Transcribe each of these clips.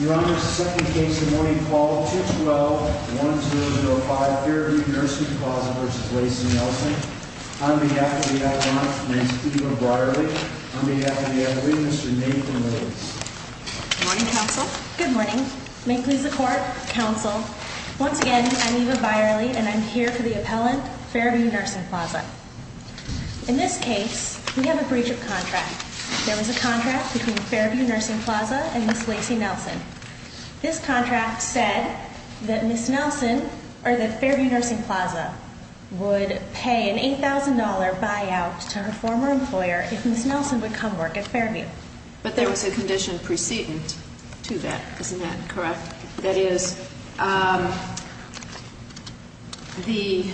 Your Honor, second case in the morning, call 212-1205, Fairview Nursing Plaza v. Lacey Nelson. On behalf of the adjunct, Ms. Eva Beyerly, on behalf of the attorney, Mr. Nathan Williams. Good morning, counsel. Good morning. May it please the court. Counsel, once again, I'm Eva Beyerly, and I'm here for the appellant, Fairview Nursing Plaza. In this case, we have a breach of contract. There was a contract between Fairview Nursing Plaza and Ms. Lacey Nelson. This contract said that Ms. Nelson, or that Fairview Nursing Plaza, would pay an $8,000 buyout to her former employer if Ms. Nelson would come work at Fairview. But there was a condition precedent to that, isn't that correct? That is, the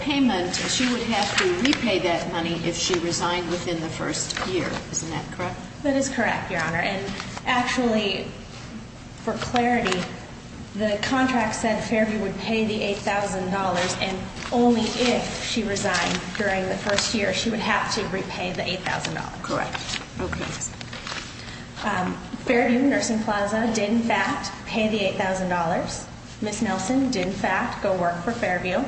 payment, she would have to repay that money if she resigned within the first year, isn't that correct? That is correct, Your Honor. And actually, for clarity, the contract said Fairview would pay the $8,000, and only if she resigned during the first year, she would have to repay the $8,000. Correct. Okay. Fairview Nursing Plaza did, in fact, pay the $8,000. Ms. Nelson did, in fact, go work for Fairview.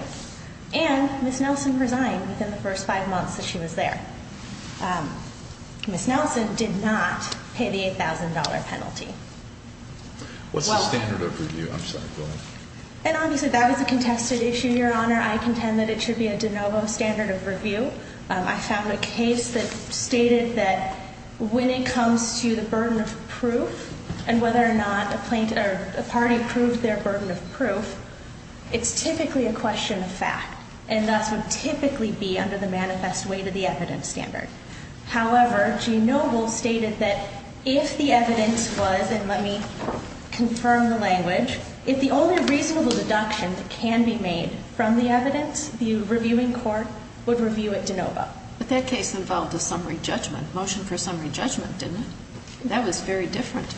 And Ms. Nelson resigned within the first five months that she was there. Ms. Nelson did not pay the $8,000 penalty. What's the standard of review? I'm sorry, go ahead. And obviously, that is a contested issue, Your Honor. I contend that it should be a de novo standard of review. I found a case that stated that when it comes to the burden of proof and whether or not a party proved their burden of proof, it's typically a question of fact. And that would typically be under the manifest way to the evidence standard. However, G. Noble stated that if the evidence was, and let me confirm the language, if the only reasonable deduction that can be made from the evidence, the reviewing court would review it de novo. But that case involved a summary judgment, a motion for summary judgment, didn't it? That was very different.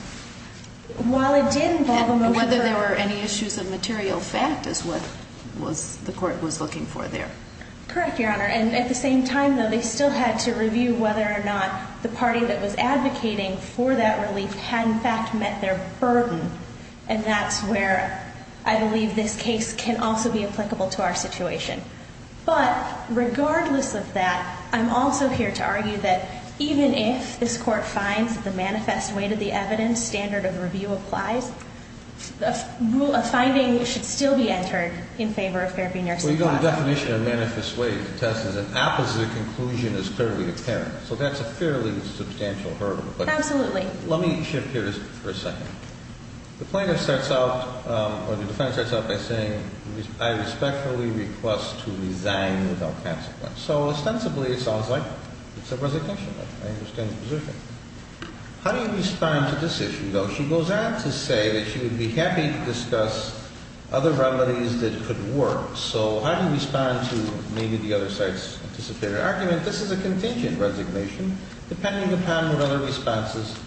While it did involve a motion for... And whether there were any issues of material fact is what the court was looking for there. Correct, Your Honor. And at the same time, though, they still had to review whether or not the party that was advocating for that relief had in fact met their burden. And that's where I believe this case can also be applicable to our situation. But regardless of that, I'm also here to argue that even if this court finds the manifest way to the evidence standard of review applies, a finding should still be entered in favor of therapy, nursing, and counseling. Well, you know the definition of manifest way to the test is an opposite conclusion is clearly apparent. So that's a fairly substantial hurdle. Absolutely. Let me shift gears for a second. The plaintiff starts out, or the defendant starts out by saying, I respectfully request to resign without consequence. So ostensibly it sounds like it's a resignation. I understand the position. How do you respond to this issue, though? She goes on to say that she would be happy to discuss other remedies that could work. So how do you respond to maybe the other side's anticipated argument? This is a contingent resignation, depending upon what other responses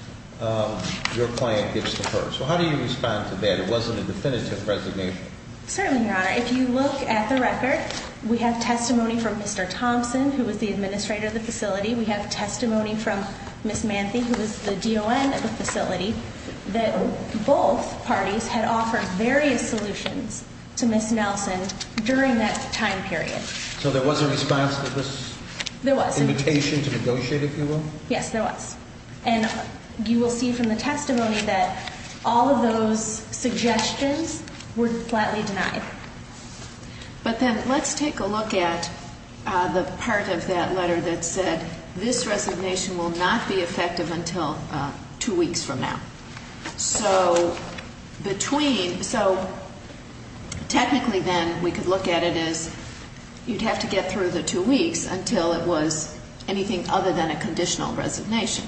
your client gives to her. So how do you respond to that? It wasn't a definitive resignation. Certainly, Your Honor. If you look at the record, we have testimony from Mr. Thompson, who was the administrator of the facility. We have testimony from Ms. Manthe, who was the D.O.N. of the facility, that both parties had offered various solutions to Ms. Nelson during that time period. So there was a response to this invitation to negotiate, if you will? Yes, there was. And you will see from the testimony that all of those suggestions were flatly denied. But then let's take a look at the part of that letter that said this resignation will not be effective until two weeks from now. So technically then we could look at it as you'd have to get through the two weeks until it was anything other than a conditional resignation.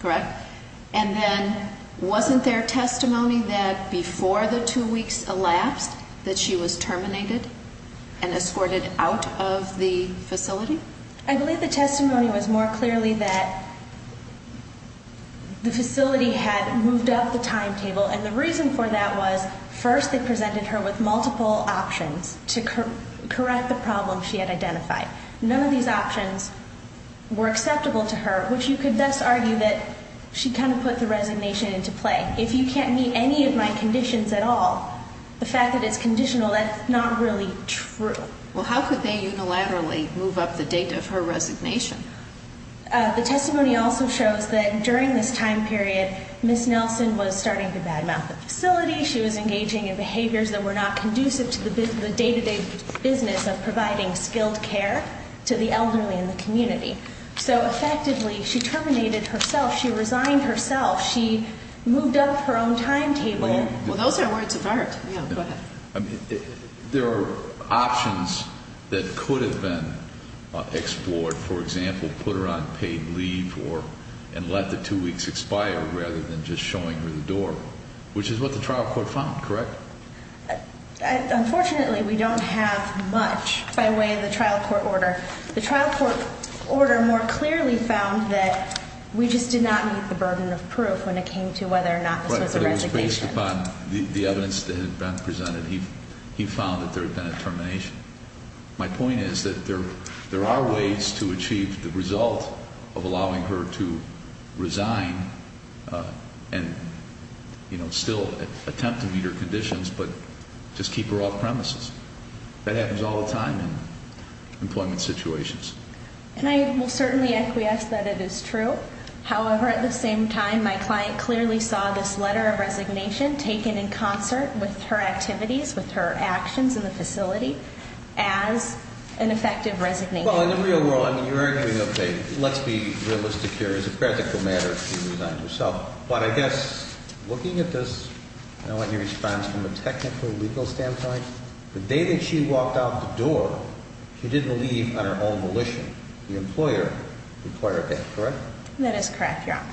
Correct? Correct. And then wasn't there testimony that before the two weeks elapsed that she was terminated and escorted out of the facility? I believe the testimony was more clearly that the facility had moved up the timetable, and the reason for that was first they presented her with multiple options to correct the problem she had identified. None of these options were acceptable to her, which you could thus argue that she kind of put the resignation into play. If you can't meet any of my conditions at all, the fact that it's conditional, that's not really true. Well, how could they unilaterally move up the date of her resignation? The testimony also shows that during this time period, Ms. Nelson was starting to badmouth the facility. She was engaging in behaviors that were not conducive to the day-to-day business of providing skilled care to the elderly in the community. So effectively she terminated herself. She resigned herself. She moved up her own timetable. Well, those are words of art. Yeah, go ahead. There are options that could have been explored. For example, put her on paid leave and let the two weeks expire rather than just showing her the door, which is what the trial court found, correct? Unfortunately, we don't have much by way of the trial court order. The trial court order more clearly found that we just did not meet the burden of proof when it came to whether or not this was a resignation. But it was based upon the evidence that had been presented. He found that there had been a termination. My point is that there are ways to achieve the result of allowing her to resign and still attempt to meet her conditions, but just keep her off premises. That happens all the time in employment situations. And I will certainly acquiesce that it is true. However, at the same time, my client clearly saw this letter of resignation taken in concert with her activities, with her actions in the facility as an effective resignation. Well, in the real world, you're arguing, okay, let's be realistic here. It's a practical matter if she resigned herself. But I guess looking at this, I want your response from a technical legal standpoint. The day that she walked out the door, she didn't leave on her own volition. The employer required that, correct? That is correct, Your Honor.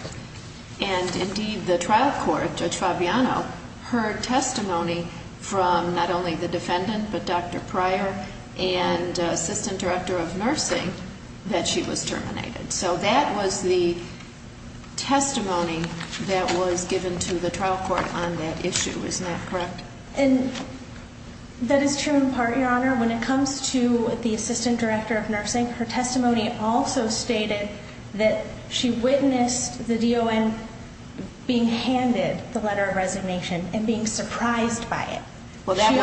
And indeed, the trial court, Judge Fabiano, heard testimony from not only the defendant but Dr. Pryor and Assistant Director of Nursing that she was terminated. So that was the testimony that was given to the trial court on that issue, isn't that correct? Your Honor, when it comes to the Assistant Director of Nursing, her testimony also stated that she witnessed the DON being handed the letter of resignation and being surprised by it. Well, that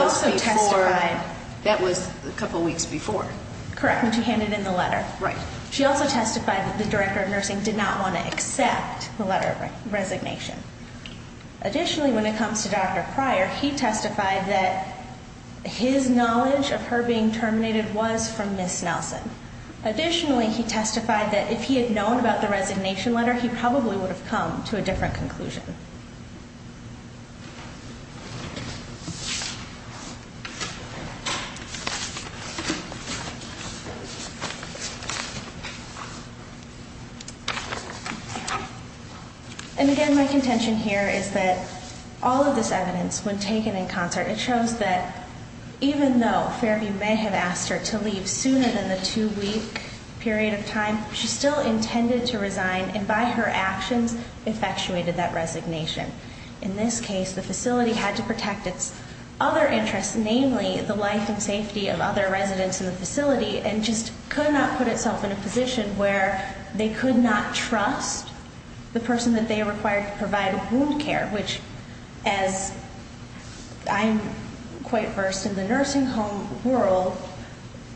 was a couple weeks before. Correct, when she handed in the letter. Right. She also testified that the Director of Nursing did not want to accept the letter of resignation. Additionally, when it comes to Dr. Pryor, he testified that his knowledge of her being terminated was from Ms. Nelson. Additionally, he testified that if he had known about the resignation letter, he probably would have come to a different conclusion. And again, my contention here is that all of this evidence, when taken in concert, it shows that even though Fairview may have asked her to leave sooner than the two-week period of time, she still intended to resign and by her actions effectuated that resignation. In this case, the facility had to protect its other interests, namely the life and safety of other residents in the facility, and just could not put itself in a position where they could not trust the person that they required to provide wound care, which as I'm quite versed in the nursing home world,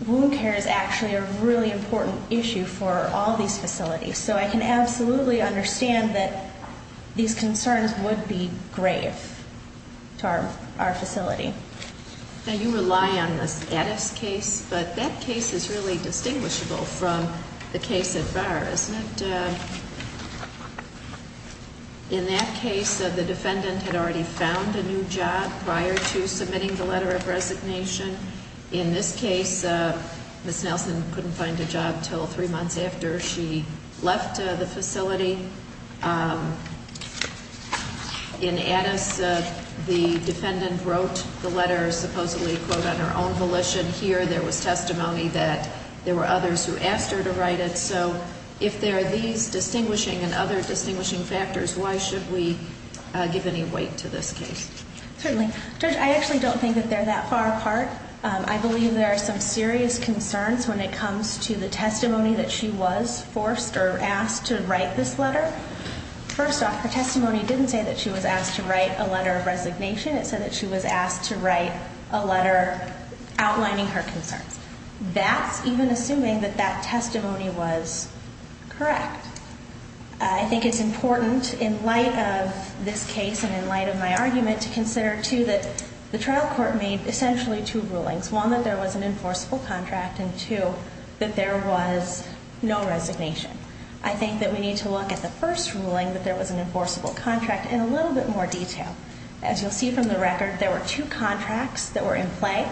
wound care is actually a really important issue for all these facilities. So I can absolutely understand that these concerns would be grave to our facility. Now you rely on the Addis case, but that case is really distinguishable from the case at Barr, isn't it? In that case, the defendant had already found a new job prior to submitting the letter of resignation. In this case, Ms. Nelson couldn't find a job until three months after she left the facility. In Addis, the defendant wrote the letter supposedly, quote, on her own volition. Here there was testimony that there were others who asked her to write it. So if there are these distinguishing and other distinguishing factors, why should we give any weight to this case? Certainly. Judge, I actually don't think that they're that far apart. I believe there are some serious concerns when it comes to the testimony that she was forced or asked to write this letter. First off, her testimony didn't say that she was asked to write a letter of resignation. It said that she was asked to write a letter outlining her concerns. That's even assuming that that testimony was correct. I think it's important in light of this case and in light of my argument to consider, too, that the trial court made essentially two rulings. One, that there was an enforceable contract, and two, that there was no resignation. I think that we need to look at the first ruling, that there was an enforceable contract, in a little bit more detail. As you'll see from the record, there were two contracts that were in play.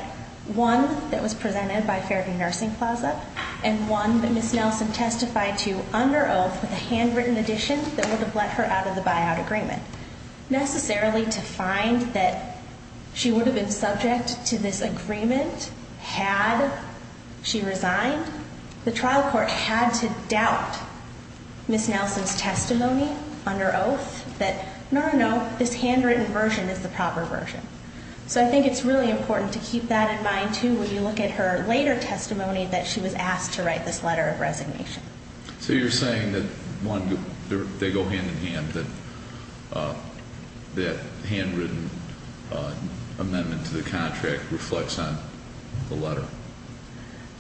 One that was presented by Fairview Nursing Plaza, and one that Ms. Nelson testified to under oath with a handwritten addition that would have let her out of the buyout agreement. Necessarily to find that she would have been subject to this agreement had she resigned, the trial court had to doubt Ms. Nelson's testimony under oath that, no, no, no, this handwritten version is the proper version. So I think it's really important to keep that in mind, too, when you look at her later testimony that she was asked to write this letter of resignation. So you're saying that, one, they go hand in hand, that that handwritten amendment to the contract reflects on the letter?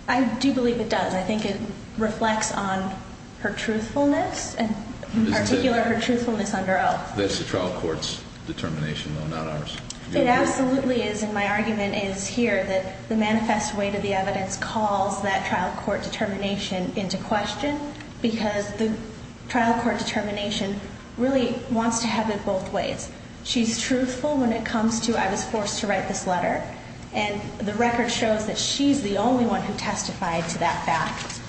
I do believe it does. I think it reflects on her truthfulness, in particular her truthfulness under oath. That's the trial court's determination, though, not ours. It absolutely is, and my argument is here that the manifest weight of the evidence calls that trial court determination into question, because the trial court determination really wants to have it both ways. She's truthful when it comes to, I was forced to write this letter, and the record shows that she's the only one who testified to that fact.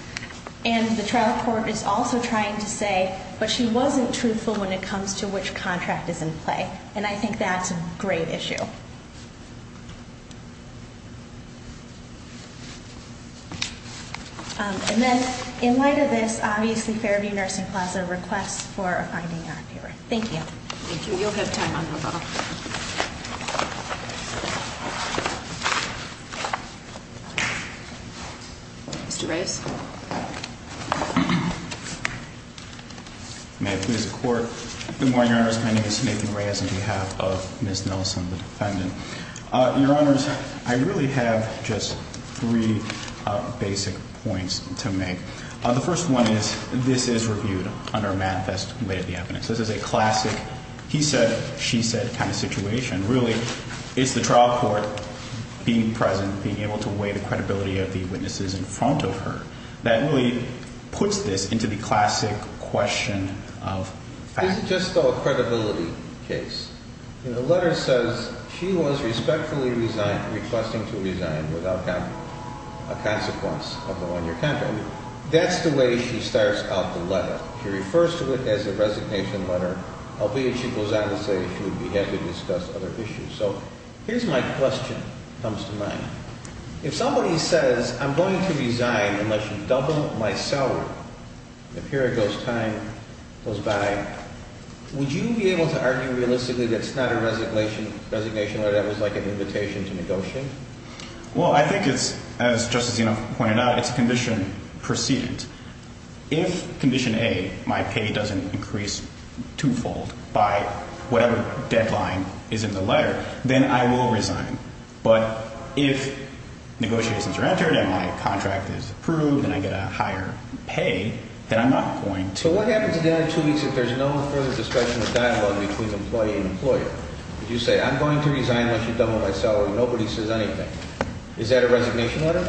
And the trial court is also trying to say, but she wasn't truthful when it comes to which contract is in play. And I think that's a grave issue. And then, in light of this, obviously, Fairview Nursing Plaza requests for a finding out hearing. Thank you. Thank you. You'll have time on the call. Mr. Reyes. May I please report? Good morning, Your Honors. My name is Nathan Reyes on behalf of Ms. Nelson, the defendant. Your Honors, I really have just three basic points to make. The first one is, this is reviewed under manifest weight of the evidence. This is a classic he said, she said kind of thing. Really, it's the trial court being present, being able to weigh the credibility of the witnesses in front of her. That really puts this into the classic question of fact. This is just a credibility case. The letter says she was respectfully requesting to resign without having a consequence of the one-year contract. That's the way she starts out the letter. She refers to it as a resignation letter. Albeit, she goes on to say she would be happy to discuss other issues. So, here's my question comes to mind. If somebody says, I'm going to resign unless you double my salary, the period goes by. Would you be able to argue realistically that's not a resignation letter, that was like an invitation to negotiate? Well, I think it's, as Justice Enum pointed out, it's a condition precedent. If condition A, my pay doesn't increase two-fold by whatever deadline is in the letter, then I will resign. But if negotiations are entered and my contract is approved and I get a higher pay, then I'm not going to. So, what happens at the end of two weeks if there's no further discussion or dialogue between employee and employer? You say, I'm going to resign once you double my salary. Nobody says anything. Is that a resignation letter?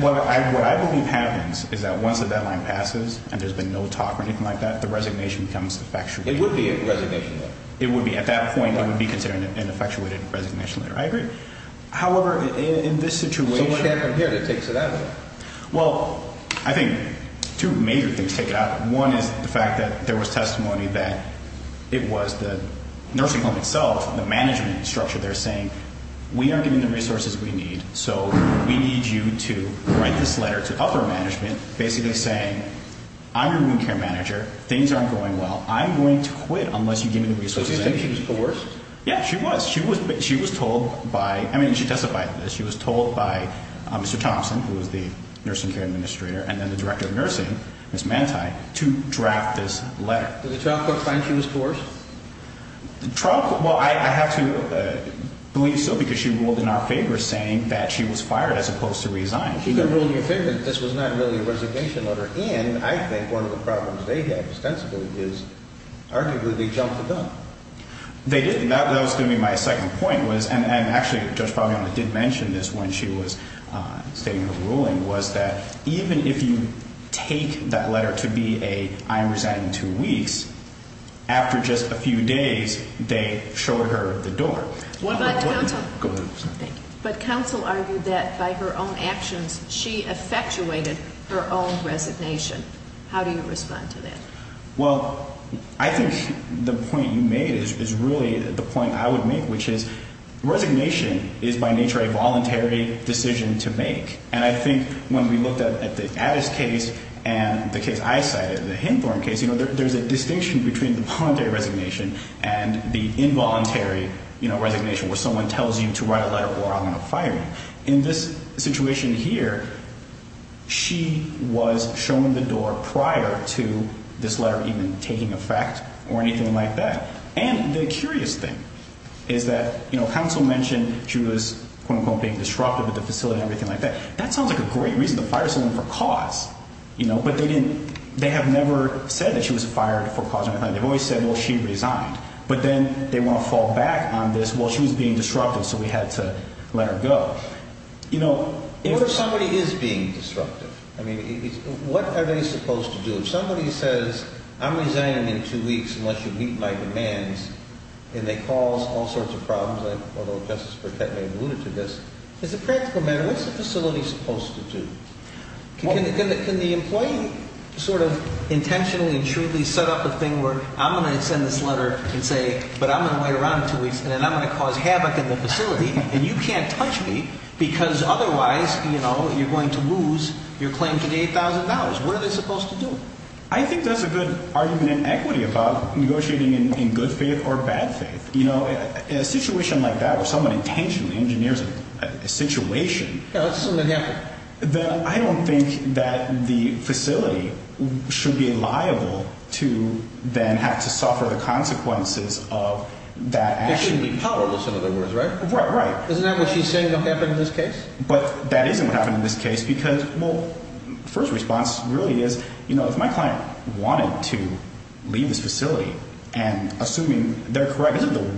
What I believe happens is that once the deadline passes and there's been no talk or anything like that, the resignation becomes effectuated. It would be a resignation letter. It would be. At that point, it would be considered an effectuated resignation letter. I agree. However, in this situation. So, what happened here that takes it out of it? Well, I think two major things take it out of it. One is the fact that there was testimony that it was the nursing home itself, the management structure there saying, we aren't getting the resources we need, so we need you to write this letter to upper management basically saying, I'm your new care manager. Things aren't going well. I'm going to quit unless you give me the resources I need. So, she didn't think she was forced? Yeah, she was. She was told by, I mean, she testified to this. She was told by Mr. Thompson, who was the nursing care administrator, and then the director of nursing, Ms. Manti, to draft this letter. Did the trial court find she was forced? The trial court, well, I have to believe so because she ruled in our favor saying that she was fired as opposed to resigned. She could have ruled in your favor that this was not really a reservation letter. And I think one of the problems they have ostensibly is arguably they jumped the gun. They didn't. That was going to be my second point was, and actually Judge Fabiani did mention this when she was stating her ruling, was that even if you take that letter to be a, I am resigning in two weeks, after just a few days, they showed her the door. But counsel argued that by her own actions, she effectuated her own resignation. How do you respond to that? Well, I think the point you made is really the point I would make, which is resignation is by nature a voluntary decision to make. And I think when we looked at the Addis case and the case I cited, the Hinthorn case, there's a distinction between the voluntary resignation and the involuntary resignation where someone tells you to write a letter or I'm going to fire you. In this situation here, she was shown the door prior to this letter even taking effect or anything like that. And the curious thing is that, you know, counsel mentioned she was being disruptive at the facility and everything like that. That sounds like a great reason to fire someone for cause, you know, but they didn't. They have never said that she was fired for causing. They've always said, well, she resigned. But then they won't fall back on this while she was being disruptive. So we had to let her go. You know, if somebody is being disruptive, I mean, what are they supposed to do? If somebody says, I'm resigning in two weeks unless you meet my demands, and they cause all sorts of problems, although Justice Brickett may have alluded to this, as a practical matter, what's the facility supposed to do? Can the employee sort of intentionally and truly set up a thing where I'm going to send this letter and say, but I'm going to wait around two weeks, and then I'm going to cause havoc in the facility, and you can't touch me because otherwise, you know, you're going to lose your claim to the $8,000. What are they supposed to do? I think that's a good argument in equity about negotiating in good faith or bad faith. You know, in a situation like that where someone intentionally engineers a situation, Yeah, that's something that happened. I don't think that the facility should be liable to then have to suffer the consequences of that action. They shouldn't be powerless, in other words, right? Right, right. Isn't that what she's saying will happen in this case? But that isn't what happened in this case because, well, the first response really is, you know, if my client wanted to leave this facility, and assuming they're correct, this is the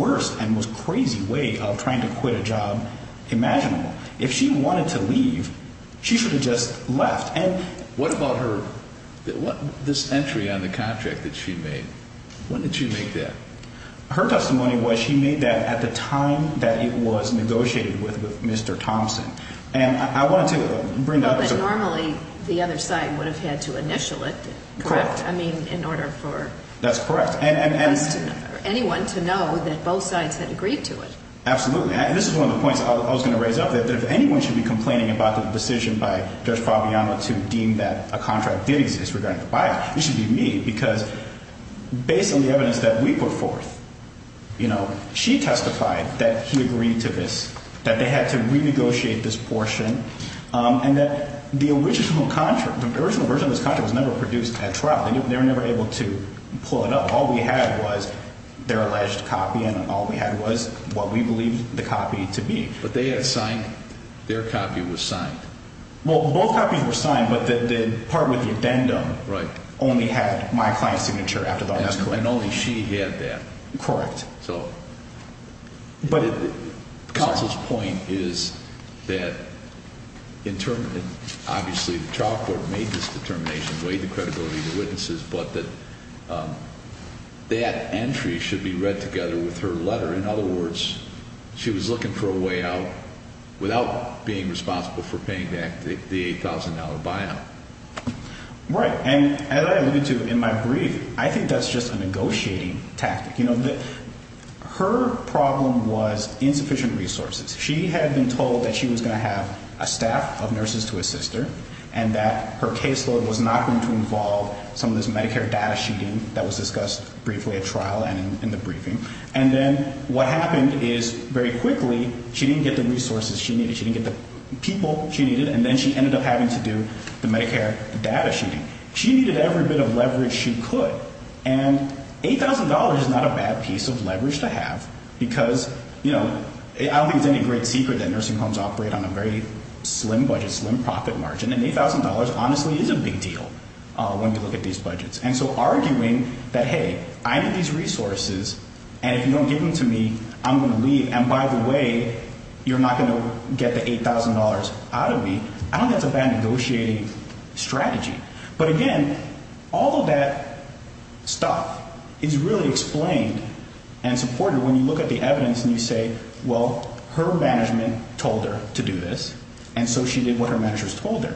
worst and most crazy way of trying to quit a job imaginable. If she wanted to leave, she should have just left. And what about her – this entry on the contract that she made, when did she make that? Her testimony was she made that at the time that it was negotiated with Mr. Thompson. And I wanted to bring that up. Well, but normally the other side would have had to initial it, correct? Correct. I mean, in order for anyone to know that both sides had agreed to it. Absolutely. And this is one of the points I was going to raise up, that if anyone should be complaining about the decision by Judge Fabiano to deem that a contract did exist regarding the buyout, it should be me because based on the evidence that we put forth, you know, she testified that he agreed to this, that they had to renegotiate this portion, and that the original contract – the original version of this contract was never produced at trial. They were never able to pull it up. All we had was their alleged copy, and all we had was what we believed the copy to be. But they had signed – their copy was signed. Right. Only had my client's signature after that. And only she had that. Correct. So – But – Counsel's point is that in terms of – obviously the trial court made this determination, weighed the credibility of the witnesses, but that that entry should be read together with her letter. In other words, she was looking for a way out without being responsible for paying back the $8,000 buyout. Right. And as I alluded to in my brief, I think that's just a negotiating tactic. You know, her problem was insufficient resources. She had been told that she was going to have a staff of nurses to assist her and that her caseload was not going to involve some of this Medicare data sheeting that was discussed briefly at trial and in the briefing. And then what happened is very quickly she didn't get the resources she needed. She didn't get the people she needed, and then she ended up having to do the Medicare data sheeting. She needed every bit of leverage she could. And $8,000 is not a bad piece of leverage to have because, you know, I don't think it's any great secret that nursing homes operate on a very slim budget, slim profit margin, and $8,000 honestly is a big deal when you look at these budgets. And so arguing that, hey, I need these resources, and if you don't give them to me, I'm going to leave. And by the way, you're not going to get the $8,000 out of me, I don't think that's a bad negotiating strategy. But again, all of that stuff is really explained and supported when you look at the evidence and you say, well, her management told her to do this, and so she did what her managers told her.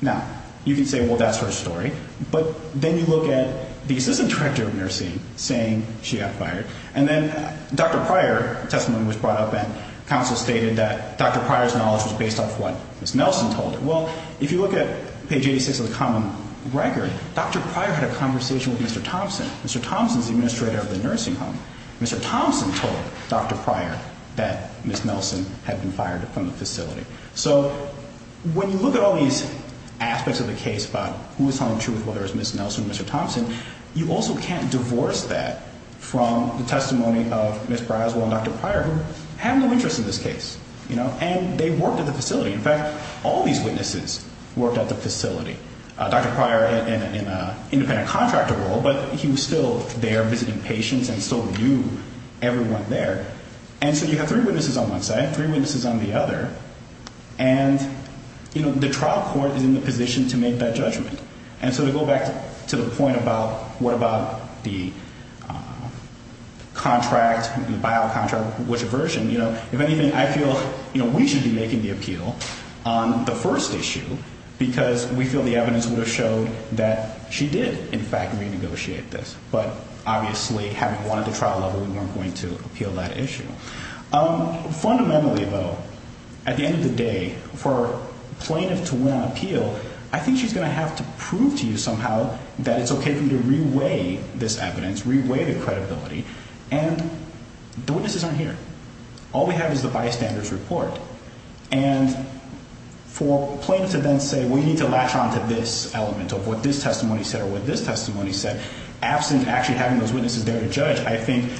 Now, you can say, well, that's her story. But then you look at the assistant director of nursing saying she got fired. And then Dr. Pryor's testimony was brought up and counsel stated that Dr. Pryor's knowledge was based off what Ms. Nelson told her. Well, if you look at page 86 of the common record, Dr. Pryor had a conversation with Mr. Thompson. Mr. Thompson is the administrator of the nursing home. Mr. Thompson told Dr. Pryor that Ms. Nelson had been fired from the facility. So when you look at all these aspects of the case about who is telling the truth, whether it's Ms. Nelson or Mr. Thompson, you also can't divorce that from the testimony of Ms. Braswell and Dr. Pryor who have no interest in this case. And they worked at the facility. In fact, all these witnesses worked at the facility. Dr. Pryor in an independent contractor role, but he was still there visiting patients and still knew everyone there. And so you have three witnesses on one side, three witnesses on the other. And the trial court is in the position to make that judgment. And so to go back to the point about what about the contract, the buyout contract, which version, if anything, I feel we should be making the appeal on the first issue because we feel the evidence would have showed that she did, in fact, renegotiate this. But obviously, having won at the trial level, we weren't going to appeal that issue. Fundamentally, though, at the end of the day, for plaintiff to win an appeal, I think she's going to have to prove to you somehow that it's OK for you to reweigh this evidence, reweigh the credibility. And the witnesses aren't here. All we have is the bystander's report. And for plaintiff to then say, well, you need to latch on to this element of what this testimony said or what this testimony said, absent actually having those witnesses there to judge, I think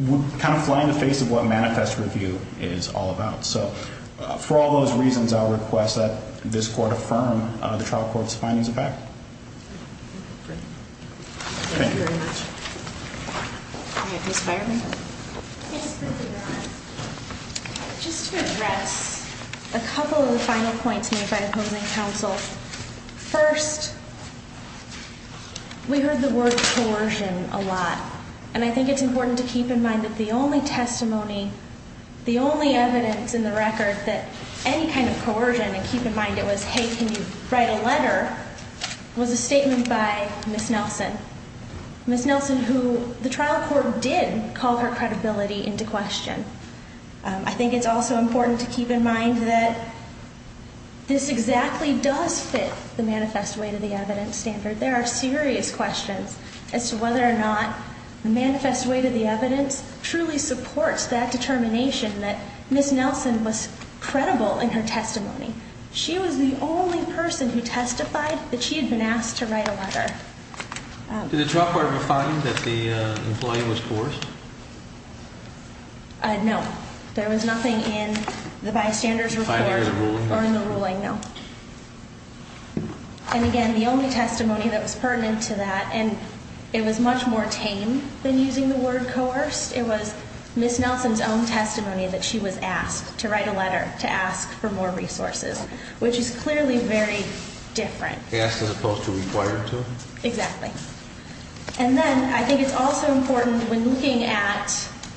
would kind of fly in the face of what manifest review is all about. So for all those reasons, I'll request that this court affirm the trial court's findings of fact. Thank you. Thank you very much. May I please fire me? Yes. Just to address a couple of the final points made by opposing counsel. First, we heard the word coercion a lot. And I think it's important to keep in mind that the only testimony, the only evidence in the record that any kind of coercion, and keep in mind it was, hey, can you write a letter, was a statement by Ms. Nelson. Ms. Nelson, who the trial court did call her credibility into question. I think it's also important to keep in mind that this exactly does fit the manifest way to the evidence standard. There are serious questions as to whether or not the manifest way to the evidence truly supports that determination, that Ms. Nelson was credible in her testimony. She was the only person who testified that she had been asked to write a letter. Did the trial court find that the employee was coerced? No. There was nothing in the bystander's report or in the ruling, no. And again, the only testimony that was pertinent to that, and it was much more tame than using the word coerced, it was Ms. Nelson's own testimony that she was asked to write a letter, to ask for more resources, which is clearly very different. Asked as opposed to required to? Exactly. And then I think it's also important when looking at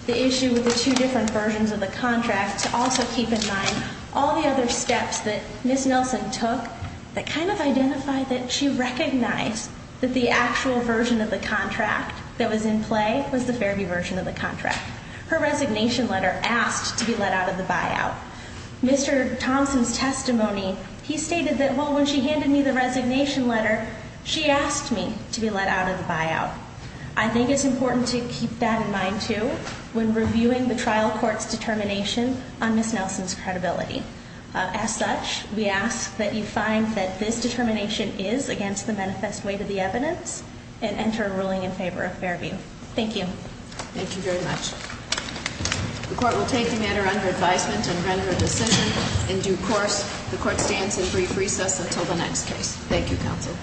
the issue with the two different versions of the contract to also keep in mind all the other steps that Ms. Nelson took that kind of identified that she recognized that the actual version of the contract that was in play was the Fairview version of the contract. Her resignation letter asked to be let out of the buyout. Mr. Thompson's testimony, he stated that, well, when she handed me the resignation letter, she asked me to be let out of the buyout. I think it's important to keep that in mind, too, when reviewing the trial court's determination on Ms. Nelson's credibility. As such, we ask that you find that this determination is against the manifest way to the evidence and enter a ruling in favor of Fairview. Thank you. Thank you very much. The court will take the matter under advisement and render a decision in due course. The court stands in brief recess until the next case. Thank you, counsel.